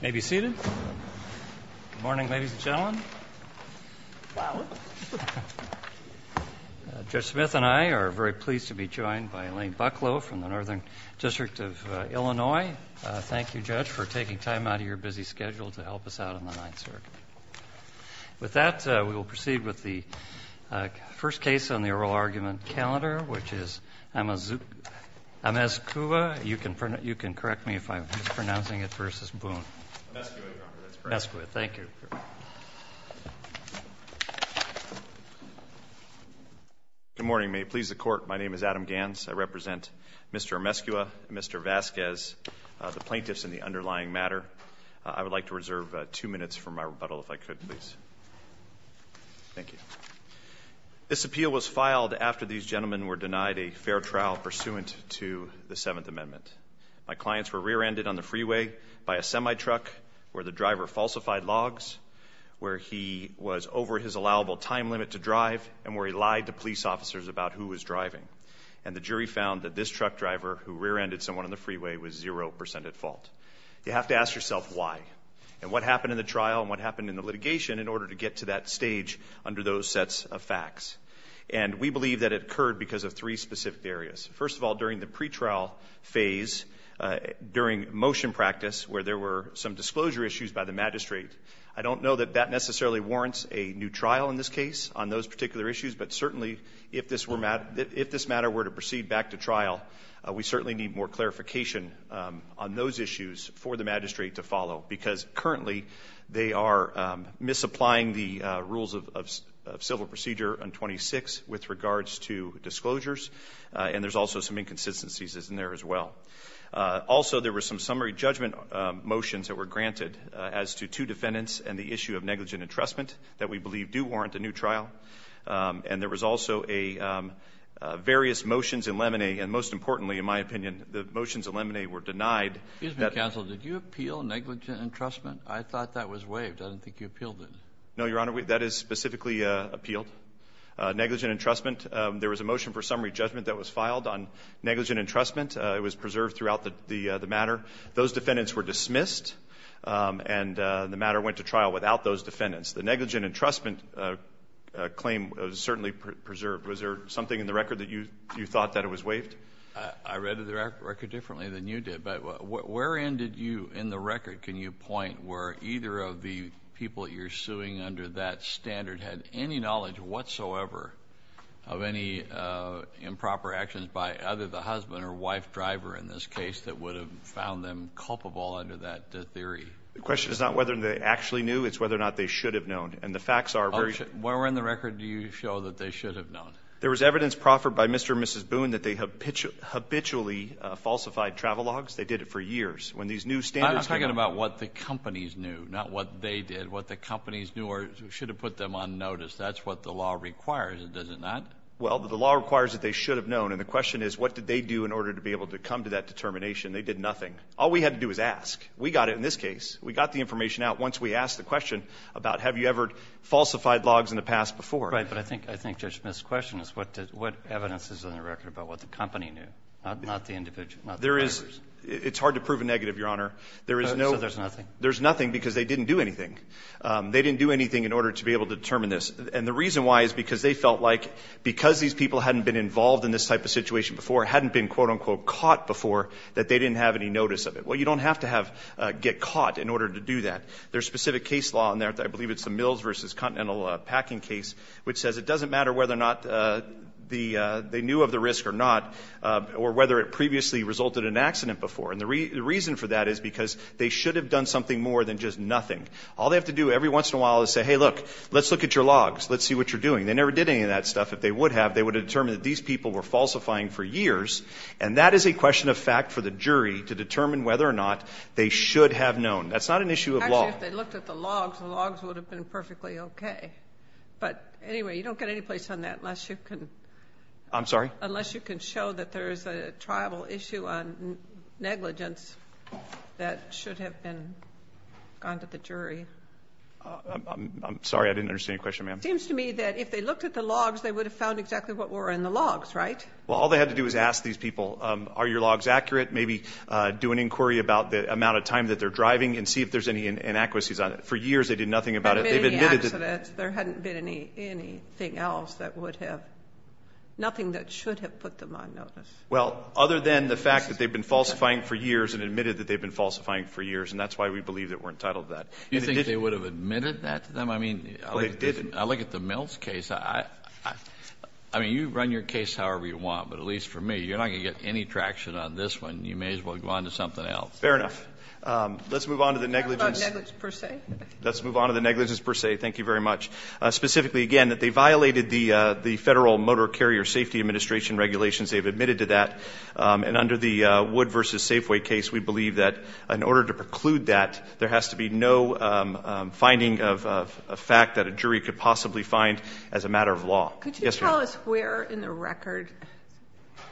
May be seated. Good morning, ladies and gentlemen. Judge Smith and I are very pleased to be joined by Elaine Bucklow from the Northern District of Illinois. Thank you, Judge, for taking time out of your busy schedule to help us out on the Ninth Circuit. With that, we will proceed with the first case on the oral argument calendar, which is Amezcua. You can correct me if I'm mispronouncing it versus Boon. Amezcua, Your Honor. That's correct. Amezcua. Thank you. Good morning. May it please the Court, my name is Adam Ganz. I represent Mr. Amezcua and Mr. Vasquez, the plaintiffs in the underlying matter. I would like to reserve two minutes for my rebuttal, if I could, please. Thank you. This appeal was filed after these gentlemen were denied a fair trial pursuant to the Seventh Amendment. My clients were rear-ended on the freeway by a semi-truck where the driver falsified logs, where he was over his allowable time limit to drive, and where he lied to police officers about who was driving. And the jury found that this truck driver, who rear-ended someone on the freeway, was zero percent at fault. You have to ask yourself why and what happened in the trial and what happened in the litigation in order to get to that stage under those sets of facts. And we believe that it occurred because of three specific areas. First of all, during the pretrial phase, during motion practice where there were some disclosure issues by the magistrate, I don't know that that necessarily warrants a new trial in this case on those particular issues, but certainly if this matter were to proceed back to trial, we certainly need more clarification on those issues for the magistrate to follow, because currently they are misapplying the rules of civil procedure on 26 with regards to disclosures, and there's also some inconsistencies in there as well. Also, there were some summary judgment motions that were granted as to two defendants and the issue of negligent entrustment that we believe do warrant a new trial. And there was also a various motions in Lemanay, and most importantly, in my opinion, the motions in Lemanay were denied. Kennedy. Excuse me, counsel. Did you appeal negligent entrustment? I thought that was waived. I didn't think you appealed it. No, Your Honor. That is specifically appealed. Negligent entrustment, there was a motion for summary judgment that was filed on negligent entrustment. It was preserved throughout the matter. Those defendants were dismissed, and the matter went to trial without those defendants. The negligent entrustment claim was certainly preserved. Was there something in the record that you thought that it was waived? I read the record differently than you did. But wherein did you in the record, can you point, where either of the people that you're suing under that standard had any knowledge whatsoever of any improper actions by either the husband or wife driver in this case that would have found them culpable under that theory? The question is not whether they actually knew. It's whether or not they should have known. And the facts are very – Wherein the record do you show that they should have known? There was evidence proffered by Mr. and Mrs. Boone that they habitually falsified travel logs. They did it for years. When these new standards came up – I'm talking about what the companies knew, not what they did, what the companies knew or should have put them on notice. That's what the law requires. It doesn't not. Well, the law requires that they should have known. And the question is what did they do in order to be able to come to that determination? They did nothing. All we had to do was ask. We got it in this case. We got the information out once we asked the question about have you ever falsified logs in the past before. Right. But I think Judge Smith's question is what evidence is in the record about what the company knew, not the individual, not the drivers. It's hard to prove a negative, Your Honor. So there's nothing? There's nothing because they didn't do anything. They didn't do anything in order to be able to determine this. And the reason why is because they felt like because these people hadn't been involved in this type of situation before, hadn't been, quote, unquote, caught before, that they didn't have any notice of it. Well, you don't have to get caught in order to do that. There's specific case law in there, I believe it's the Mills v. Continental packing case, which says it doesn't matter whether or not they knew of the risk or not or whether it previously resulted in an accident before. And the reason for that is because they should have done something more than just nothing. All they have to do every once in a while is say, hey, look, let's look at your logs. Let's see what you're doing. They never did any of that stuff. If they would have, they would have determined that these people were falsifying for years. And that is a question of fact for the jury to determine whether or not they should have known. That's not an issue of law. Actually, if they looked at the logs, the logs would have been perfectly okay. But, anyway, you don't get any place on that unless you can. I'm sorry? Unless you can show that there is a tribal issue on negligence that should have gone to the jury. I'm sorry. I didn't understand your question, ma'am. It seems to me that if they looked at the logs, they would have found exactly what were in the logs, right? Well, all they had to do was ask these people, are your logs accurate? Maybe do an inquiry about the amount of time that they're driving and see if there's any inadequacies on it. For years they did nothing about it. There hadn't been any accidents. There hadn't been anything else that would have, nothing that should have put them on notice. Well, other than the fact that they've been falsifying for years and admitted that they've been falsifying for years, and that's why we believe that we're entitled to that. You think they would have admitted that to them? I mean, I look at the Mills case. I mean, you run your case however you want, but at least for me, you're not going to get any traction on this one. You may as well go on to something else. Fair enough. Let's move on to the negligence. What about negligence per se? Let's move on to the negligence per se. Thank you very much. Specifically, again, that they violated the Federal Motor Carrier Safety Administration regulations. They've admitted to that. And under the Wood v. Safeway case, we believe that in order to preclude that, there has to be no finding of a fact that a jury could possibly find as a matter of law. Could you tell us where in the record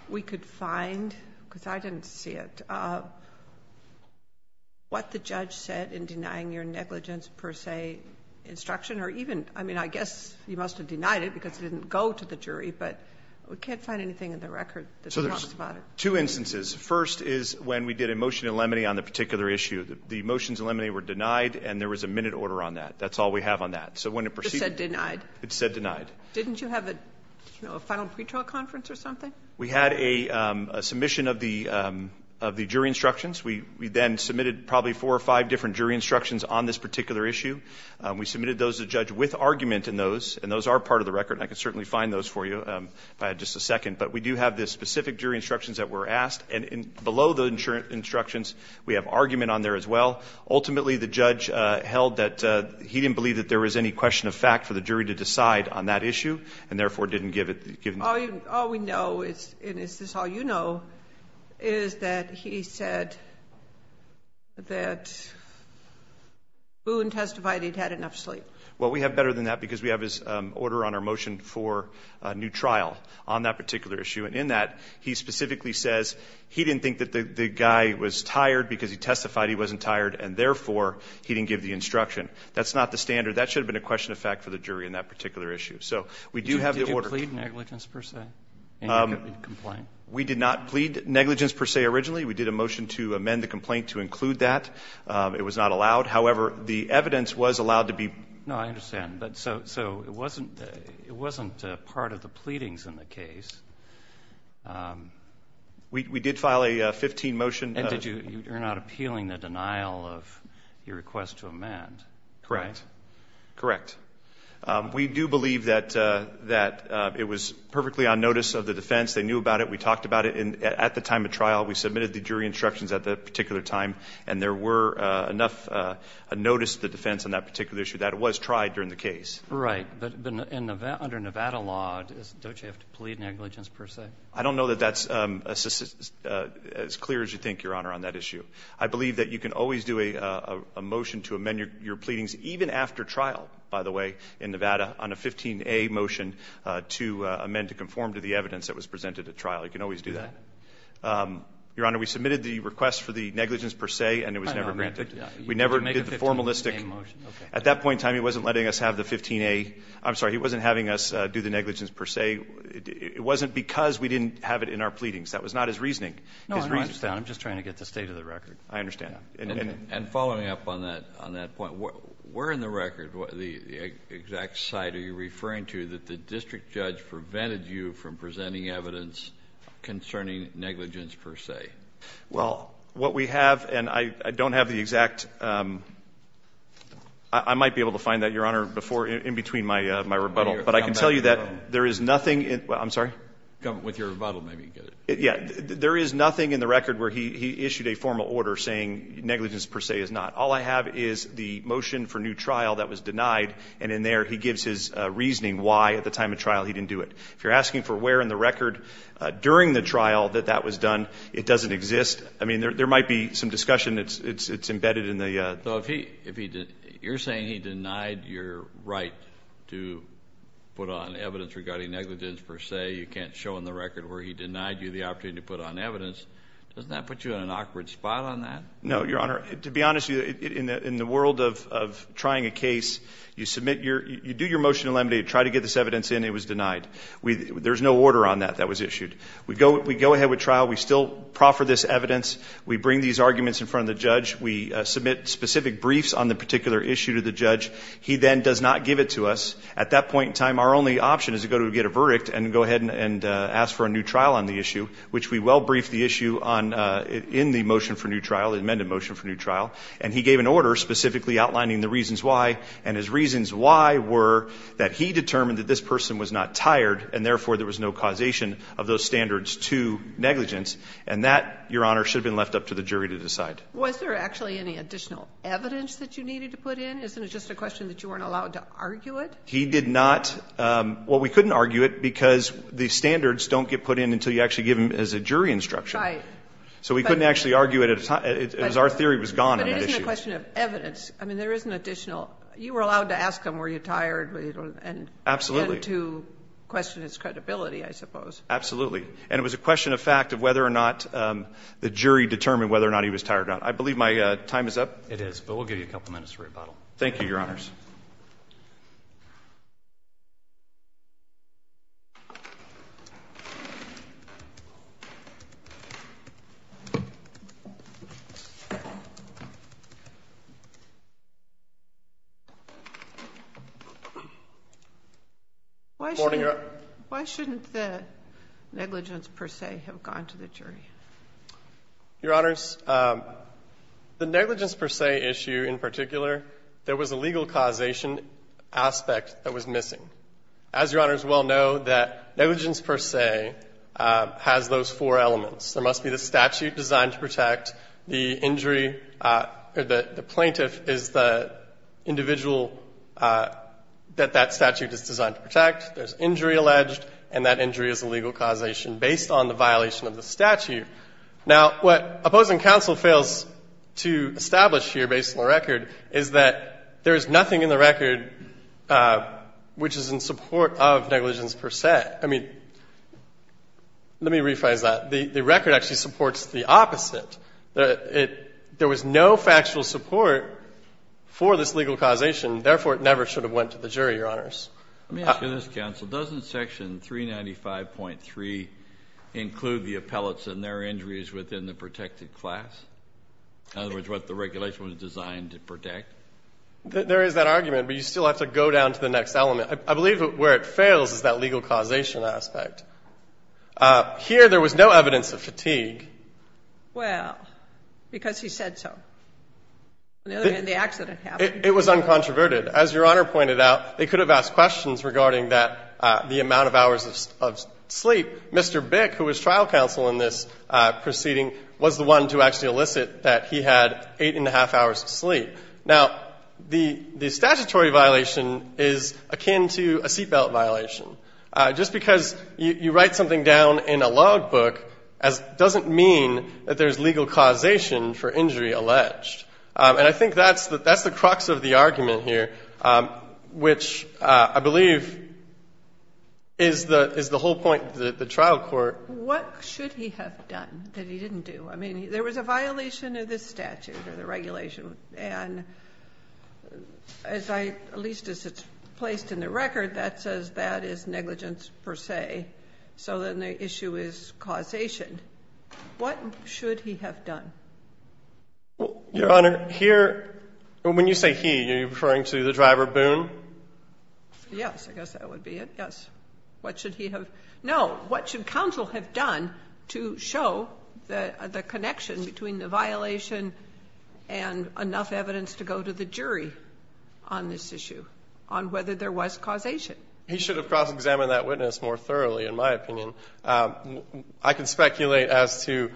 we could find, because I didn't see it, what the judge said in denying your negligence per se instruction? Or even, I mean, I guess you must have denied it because it didn't go to the jury, but we can't find anything in the record that talks about it. So there's two instances. First is when we did a motion in limine on the particular issue. The motions in limine were denied, and there was a minute order on that. That's all we have on that. It said denied. It said denied. Didn't you have a final pretrial conference or something? We had a submission of the jury instructions. We then submitted probably four or five different jury instructions on this particular issue. We submitted those to the judge with argument in those, and those are part of the record, and I can certainly find those for you if I had just a second. But we do have the specific jury instructions that were asked, and below the instructions we have argument on there as well. Ultimately the judge held that he didn't believe that there was any question of fact for the jury to decide on that issue, and therefore didn't give it. All we know, and this is all you know, is that he said that Boone testified he'd had enough sleep. Well, we have better than that because we have his order on our motion for a new trial on that particular issue. And in that he specifically says he didn't think that the guy was tired because he testified he wasn't tired, and therefore he didn't give the instruction. That's not the standard. That should have been a question of fact for the jury in that particular issue. So we do have the order. Did you plead negligence per se? We did not plead negligence per se originally. We did a motion to amend the complaint to include that. It was not allowed. However, the evidence was allowed to be. No, I understand. But so it wasn't part of the pleadings in the case. We did file a 15 motion. And you're not appealing the denial of your request to amend? Correct. Correct. We do believe that it was perfectly on notice of the defense. They knew about it. We talked about it at the time of trial. We submitted the jury instructions at that particular time, and there were enough notice of the defense on that particular issue that it was tried during the case. Right. But under Nevada law, don't you have to plead negligence per se? I don't know that that's as clear as you think, Your Honor, on that issue. I believe that you can always do a motion to amend your pleadings, even after trial, by the way, in Nevada, on a 15A motion to amend to conform to the evidence that was presented at trial. You can always do that. Your Honor, we submitted the request for the negligence per se, and it was never granted. We never did the formalistic. At that point in time, he wasn't letting us have the 15A. I'm sorry, he wasn't having us do the negligence per se. It wasn't because we didn't have it in our pleadings. That was not his reasoning. No, I understand. I'm just trying to get the state of the record. I understand. And following up on that point, where in the record, the exact site are you referring to, that the district judge prevented you from presenting evidence concerning negligence per se? Well, what we have, and I don't have the exact – I might be able to find that, Your Honor, in between my rebuttal. But I can tell you that there is nothing – I'm sorry? With your rebuttal, maybe you can get it. Yeah. There is nothing in the record where he issued a formal order saying negligence per se is not. All I have is the motion for new trial that was denied, and in there he gives his reasoning why at the time of trial he didn't do it. If you're asking for where in the record during the trial that that was done, it doesn't exist. I mean, there might be some discussion that's embedded in the – So if he – you're saying he denied your right to put on evidence regarding negligence per se. You can't show in the record where he denied you the opportunity to put on evidence. Doesn't that put you in an awkward spot on that? No, Your Honor. To be honest, in the world of trying a case, you submit your – you do your motion to eliminate, try to get this evidence in, it was denied. There's no order on that that was issued. We go ahead with trial. We still proffer this evidence. We bring these arguments in front of the judge. We submit specific briefs on the particular issue to the judge. He then does not give it to us. At that point in time, our only option is to go to get a verdict and go ahead and ask for a new trial on the issue, which we well briefed the issue on in the motion for new trial, the amended motion for new trial. And he gave an order specifically outlining the reasons why, and his reasons why were that he determined that this person was not tired and therefore there was no causation of those standards to negligence. And that, Your Honor, should have been left up to the jury to decide. Was there actually any additional evidence that you needed to put in? Isn't it just a question that you weren't allowed to argue it? He did not – well, we couldn't argue it because the standards don't get put in until you actually give them as a jury instruction. Right. So we couldn't actually argue it as our theory was gone on that issue. But it isn't a question of evidence. I mean, there is an additional – you were allowed to ask him were you tired and to question his credibility, I suppose. Absolutely. And it was a question of fact of whether or not the jury determined whether or not he was tired or not. I believe my time is up. It is, but we'll give you a couple minutes for rebuttal. Thank you, Your Honors. Sotomayor, you're up. Why shouldn't the negligence per se have gone to the jury? Your Honors, the negligence per se issue in particular, there was a legal causation aspect that was missing. As Your Honors well know, that negligence per se has those four elements. There must be the statute designed to protect, the injury – or the plaintiff is the individual that that statute is designed to protect, there's injury alleged, and that injury is a legal causation. And there's a legal causation based on the violation of the statute. Now, what opposing counsel fails to establish here based on the record is that there is nothing in the record which is in support of negligence per se. I mean, let me rephrase that. The record actually supports the opposite. There was no factual support for this legal causation. Therefore, it never should have went to the jury, Your Honors. Let me ask you this, counsel. Doesn't Section 395.3 include the appellates and their injuries within the protected class? In other words, what the regulation was designed to protect? There is that argument, but you still have to go down to the next element. I believe where it fails is that legal causation aspect. Here, there was no evidence of fatigue. Well, because he said so. On the other hand, the accident happened. It was uncontroverted. As Your Honor pointed out, they could have asked questions regarding the amount of hours of sleep. Mr. Bick, who was trial counsel in this proceeding, was the one to actually elicit that he had eight and a half hours of sleep. Now, the statutory violation is akin to a seatbelt violation. Just because you write something down in a logbook doesn't mean that there's legal causation for injury alleged. And I think that's the crux of the argument here, which I believe is the whole point of the trial court. What should he have done that he didn't do? I mean, there was a violation of this statute or the regulation. And at least as it's placed in the record, that says that is negligence per se. So then the issue is causation. What should he have done? Your Honor, here, when you say he, are you referring to the driver, Boone? Yes. I guess that would be it. Yes. What should he have? No. What should counsel have done to show the connection between the violation and enough evidence to go to the jury on this issue, on whether there was causation? He should have cross-examined that witness more thoroughly, in my opinion. I can speculate as to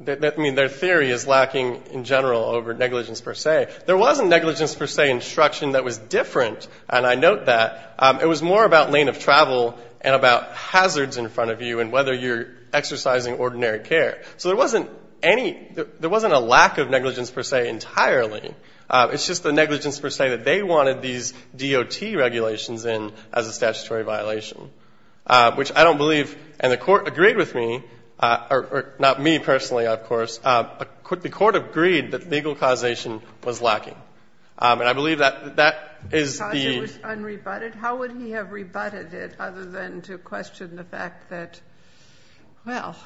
their theory is lacking in general over negligence per se. There wasn't negligence per se instruction that was different, and I note that. It was more about lane of travel and about hazards in front of you and whether you're exercising ordinary care. So there wasn't a lack of negligence per se entirely. It's just the negligence per se that they wanted these DOT regulations in as a statutory violation, which I don't believe, and the Court agreed with me, or not me personally, of course. The Court agreed that legal causation was lacking, and I believe that that is the. Because it was unrebutted? How would he have rebutted it other than to question the fact that, well,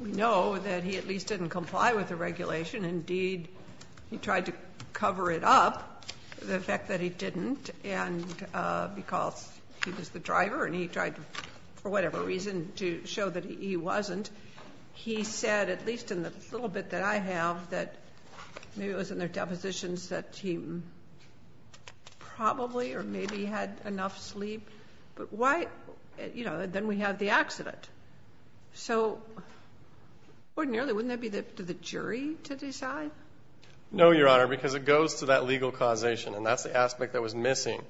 we know that he at least didn't comply with the regulation. Indeed, he tried to cover it up, the fact that he didn't, and because he was the driver and he tried for whatever reason to show that he wasn't, he said, at least in the little bit that I have, that maybe it was in their depositions that he probably or maybe had enough sleep. But why, you know, then we have the accident. So ordinarily, wouldn't that be up to the jury to decide? No, Your Honor, because it goes to that legal causation, and that's the aspect that was missing.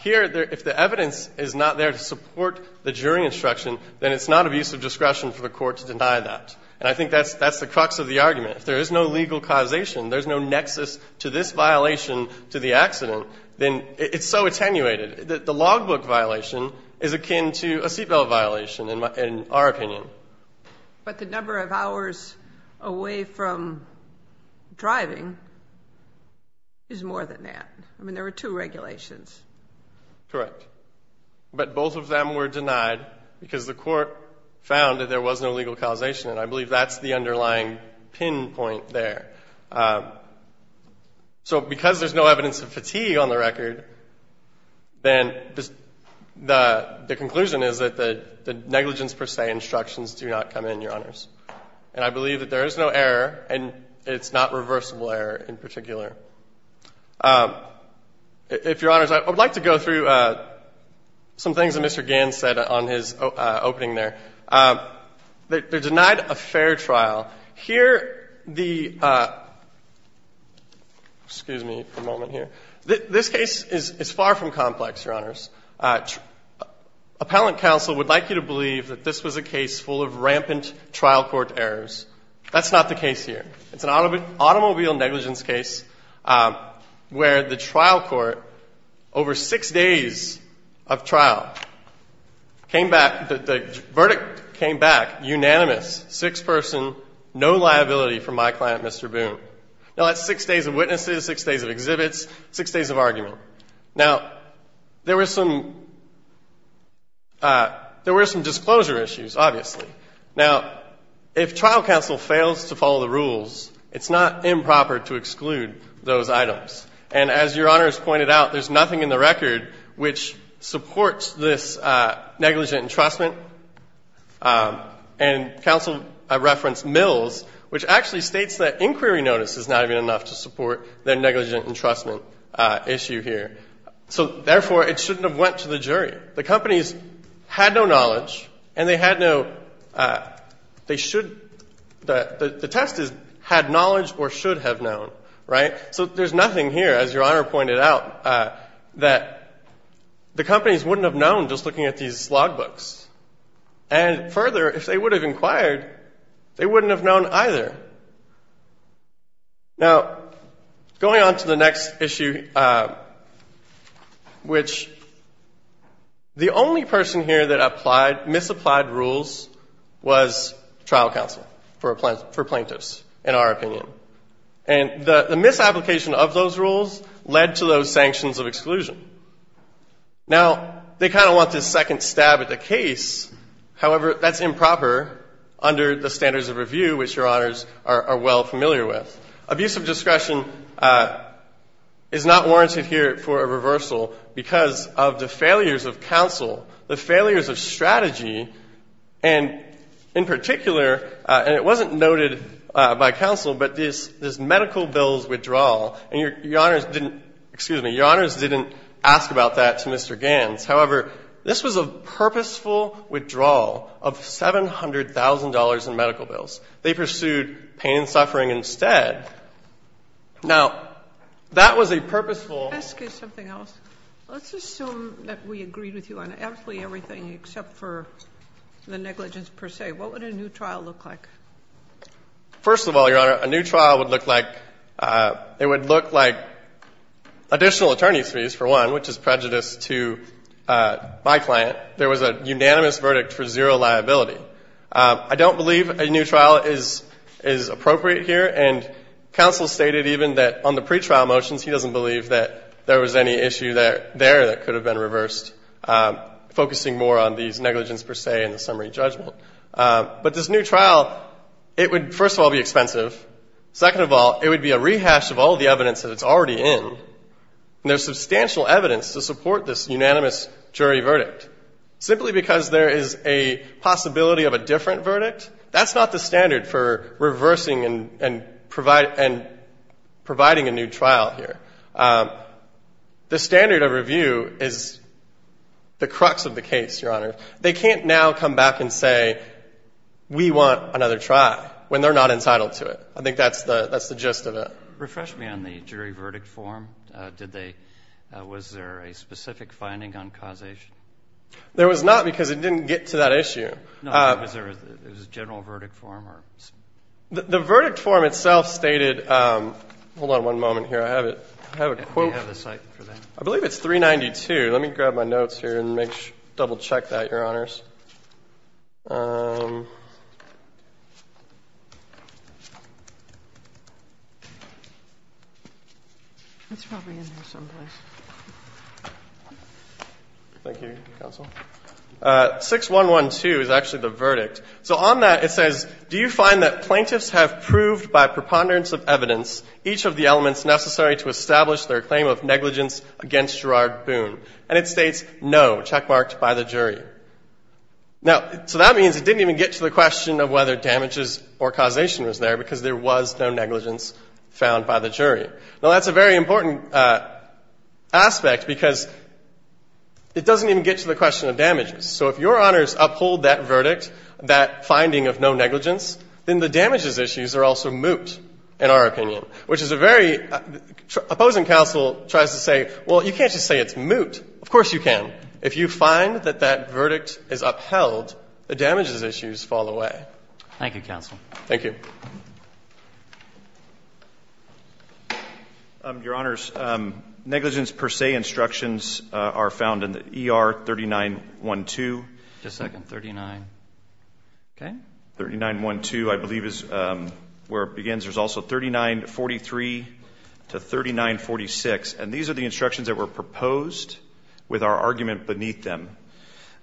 Here, if the evidence is not there to support the jury instruction, then it's not abuse of discretion for the Court to deny that. And I think that's the crux of the argument. If there is no legal causation, there's no nexus to this violation to the accident, then it's so attenuated. The logbook violation is akin to a seat belt violation, in our opinion. But the number of hours away from driving is more than that. I mean, there were two regulations. Correct. But both of them were denied because the Court found that there was no legal causation, and I believe that's the underlying pinpoint there. So because there's no evidence of fatigue on the record, then the conclusion is that the negligence per se instructions do not come in, Your Honors. And I believe that there is no error, and it's not reversible error in particular. If, Your Honors, I would like to go through some things that Mr. Gans said on his opening there. They're denied a fair trial. Here, the ‑‑ excuse me for a moment here. Appellant counsel would like you to believe that this was a case full of rampant trial court errors. That's not the case here. It's an automobile negligence case where the trial court, over six days of trial, came back, the verdict came back unanimous, six person, no liability for my client, Mr. Boone. Now, that's six days of witnesses, six days of exhibits, six days of argument. Now, there were some disclosure issues, obviously. Now, if trial counsel fails to follow the rules, it's not improper to exclude those items. And as Your Honors pointed out, there's nothing in the record which supports this negligent entrustment. And counsel referenced Mills, which actually states that inquiry notice is not even enough to support the negligent entrustment issue here. So, therefore, it shouldn't have went to the jury. The companies had no knowledge, and they had no ‑‑ they should ‑‑ the test is had knowledge or should have known, right? So there's nothing here, as Your Honor pointed out, that the companies wouldn't have known just looking at these logbooks. And further, if they would have inquired, they wouldn't have known either. Now, going on to the next issue, which the only person here that applied ‑‑ misapplied rules was trial counsel for plaintiffs, in our opinion. And the misapplication of those rules led to those sanctions of exclusion. Now, they kind of want this second stab at the case. However, that's improper under the standards of review, which Your Honors are well familiar with. Abuse of discretion is not warranted here for a reversal because of the failures of counsel, the failures of strategy, and in particular, and it wasn't noted by counsel, but this medical bills withdrawal. And Your Honors didn't ‑‑ excuse me, Your Honors didn't ask about that to Mr. Ganz. However, this was a purposeful withdrawal of $700,000 in medical bills. They pursued pain and suffering instead. Now, that was a purposeful ‑‑ Let me ask you something else. Let's assume that we agreed with you on absolutely everything except for the negligence per se. What would a new trial look like? First of all, Your Honor, a new trial would look like, it would look like additional attorney's fees, for one, which is prejudice to my client. There was a unanimous verdict for zero liability. I don't believe a new trial is appropriate here. And counsel stated even that on the pretrial motions, he doesn't believe that there was any issue there that could have been reversed, focusing more on these negligence per se and the summary judgment. But this new trial, it would, first of all, be expensive. Second of all, it would be a rehash of all the evidence that it's already in. And there's substantial evidence to support this unanimous jury verdict. Simply because there is a possibility of a different verdict, that's not the standard for reversing and providing a new trial here. The standard of review is the crux of the case, Your Honor. They can't now come back and say, we want another try, when they're not entitled to it. I think that's the gist of it. Refresh me on the jury verdict form. Did they, was there a specific finding on causation? There was not, because it didn't get to that issue. No, was there a general verdict form? The verdict form itself stated, hold on one moment here. I have a quote. I believe it's 392. Let me grab my notes here and double check that, Your Honors. It's probably in here someplace. Thank you, Counsel. 6112 is actually the verdict. So on that it says, do you find that plaintiffs have proved by preponderance of evidence each of the elements necessary to establish their claim of negligence against Gerard Boone? And it states, no, checkmarked by the jury. Now, so that means it didn't even get to the question of whether damages or causation was there, because there was no negligence found by the jury. Now, that's a very important aspect, because it doesn't even get to the question of damages. So if Your Honors uphold that verdict, that finding of no negligence, then the damages issues are also moot, in our opinion, which is a very ‑‑ opposing counsel tries to say, well, you can't just say it's moot. Of course you can. If you find that that verdict is upheld, the damages issues fall away. Thank you, Counsel. Thank you. Your Honors, negligence per se instructions are found in the ER 3912. Just a second. 39, okay. 3912, I believe, is where it begins. There's also 3943 to 3946. And these are the instructions that were proposed with our argument beneath them.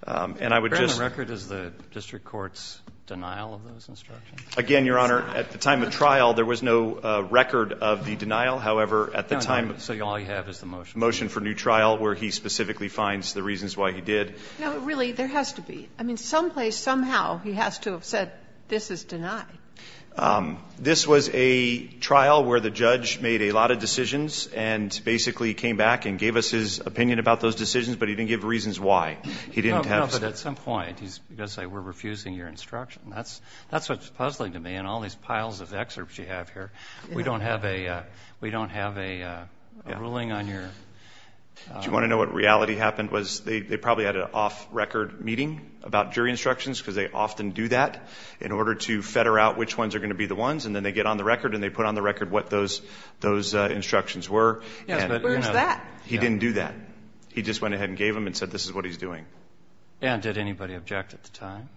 And I would just ‑‑ Your Honor, the record is the district court's denial of those instructions? Again, Your Honor, at the time of trial, there was no record of the denial. However, at the time ‑‑ So all you have is the motion. Motion for new trial, where he specifically finds the reasons why he did. No, really, there has to be. I mean, someplace, somehow, he has to have said, this is denied. This was a trial where the judge made a lot of decisions and basically came back and gave us his opinion about those decisions, but he didn't give reasons why. He didn't have ‑‑ No, but at some point, he's going to say, we're refusing your instruction. That's what's puzzling to me in all these piles of excerpts you have here. We don't have a ruling on your ‑‑ Do you want to know what reality happened? They probably had an off‑record meeting about jury instructions because they often do that in order to fetter out which ones are going to be the ones, and then they get on the record and they put on the record what those instructions were. Yes, but where's that? He didn't do that. He just went ahead and gave them and said, this is what he's doing. And did anybody object at the time?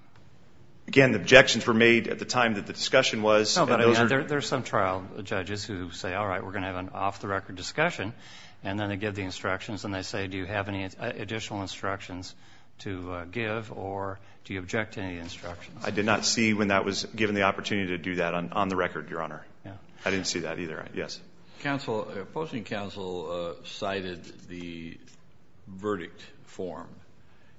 Again, the objections were made at the time that the discussion was. No, but there's some trial judges who say, all right, we're going to have an off‑the‑record discussion, and then they give the instructions and they say, do you have any additional instructions to give or do you object to any instructions? I did not see when that was given the opportunity to do that on the record, Your Honor. I didn't see that either. Yes. Counsel, opposing counsel cited the verdict form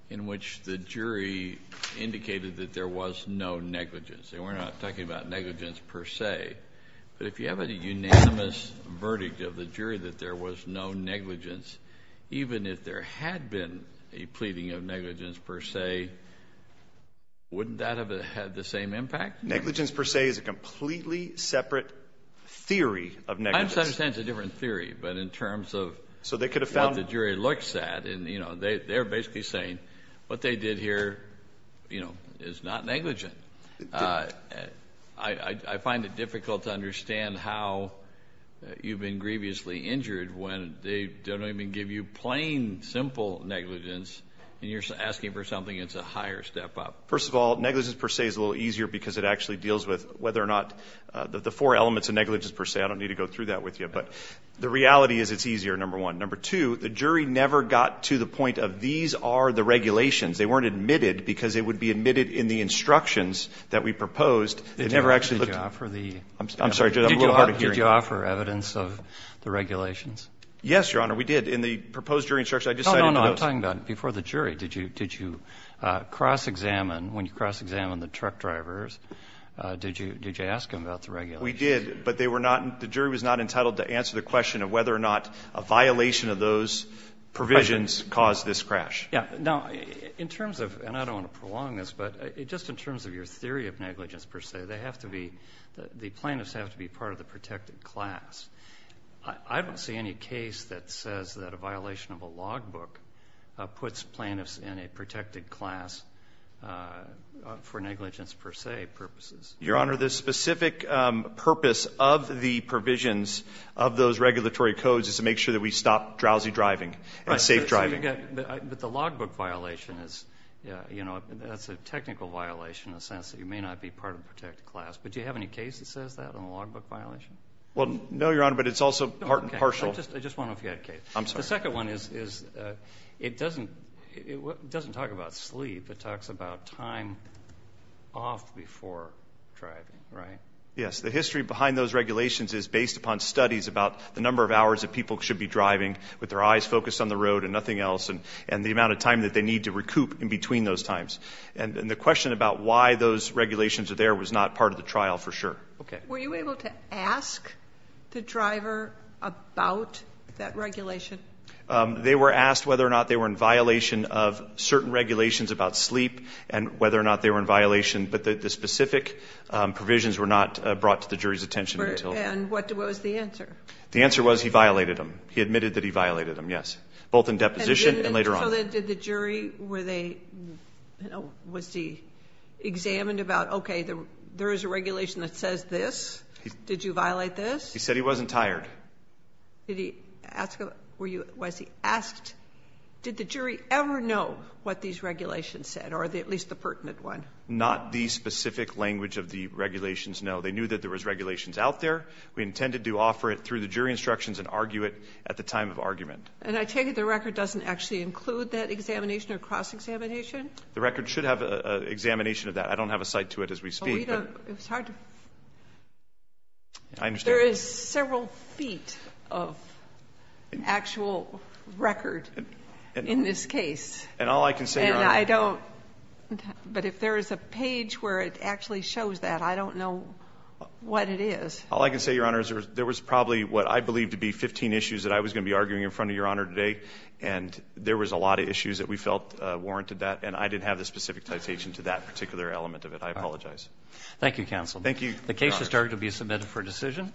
in which the jury indicated that there was no negligence. And we're not talking about negligence per se, but if you have a unanimous verdict of the jury that there was no negligence, even if there had been a pleading of negligence per se, wouldn't that have had the same impact? Negligence per se is a completely separate theory of negligence. I understand it's a different theory, but in terms of what the jury looks at, they're basically saying what they did here is not negligent. I find it difficult to understand how you've been grievously injured when they don't even give you plain, simple negligence, and you're asking for something that's a higher step up. First of all, negligence per se is a little easier because it actually deals with whether or not the four elements of negligence per se, I don't need to go through that with you, but the reality is it's easier, number one. Number two, the jury never got to the point of these are the regulations. They weren't admitted because they would be admitted in the instructions that we proposed. They never actually looked. Did you offer evidence of the regulations? Yes, Your Honor, we did. In the proposed jury instructions, I just cited those. No, no, no, I'm talking about before the jury. Did you cross-examine, when you cross-examined the truck drivers, did you ask them about the regulations? We did, but the jury was not entitled to answer the question of whether or not a violation of those provisions caused this crash. Now, in terms of, and I don't want to prolong this, but just in terms of your theory of negligence per se, they have to be, the plaintiffs have to be part of the protected class. I don't see any case that says that a violation of a log book puts plaintiffs in a protected class for negligence per se purposes. Your Honor, the specific purpose of the provisions of those regulatory codes is to make sure that we stop drowsy driving and safe driving. But the log book violation is, you know, that's a technical violation in the sense that you may not be part of the protected class. But do you have any case that says that on the log book violation? Well, no, Your Honor, but it's also partial. I just wanted to know if you had a case. I'm sorry. The second one is it doesn't talk about sleep. It talks about time off before driving, right? Yes, the history behind those regulations is based upon studies about the number of hours that people should be and the amount of time that they need to recoup in between those times. And the question about why those regulations are there was not part of the trial for sure. Okay. Were you able to ask the driver about that regulation? They were asked whether or not they were in violation of certain regulations about sleep and whether or not they were in violation, but the specific provisions were not brought to the jury's attention. And what was the answer? The answer was he violated them. He admitted that he violated them, yes. Both in deposition and later on. So then did the jury, were they, was he examined about, okay, there is a regulation that says this? Did you violate this? He said he wasn't tired. Did he ask, were you, was he asked, did the jury ever know what these regulations said, or at least the pertinent one? Not the specific language of the regulations, no. They knew that there was regulations out there. We intended to offer it through the jury instructions and argue it at the time of argument. And I take it the record doesn't actually include that examination or cross-examination? The record should have an examination of that. I don't have a cite to it as we speak. But we don't. It's hard to. I understand. There is several feet of actual record in this case. And all I can say, Your Honor. And I don't. But if there is a page where it actually shows that, I don't know what it is. All I can say, Your Honor, is there was probably what I believe to be 15 issues that I was going to be arguing in front of Your Honor today. And there was a lot of issues that we felt warranted that. And I didn't have the specific citation to that particular element of it. I apologize. Thank you, counsel. Thank you, Your Honor. The case has started to be submitted for decision.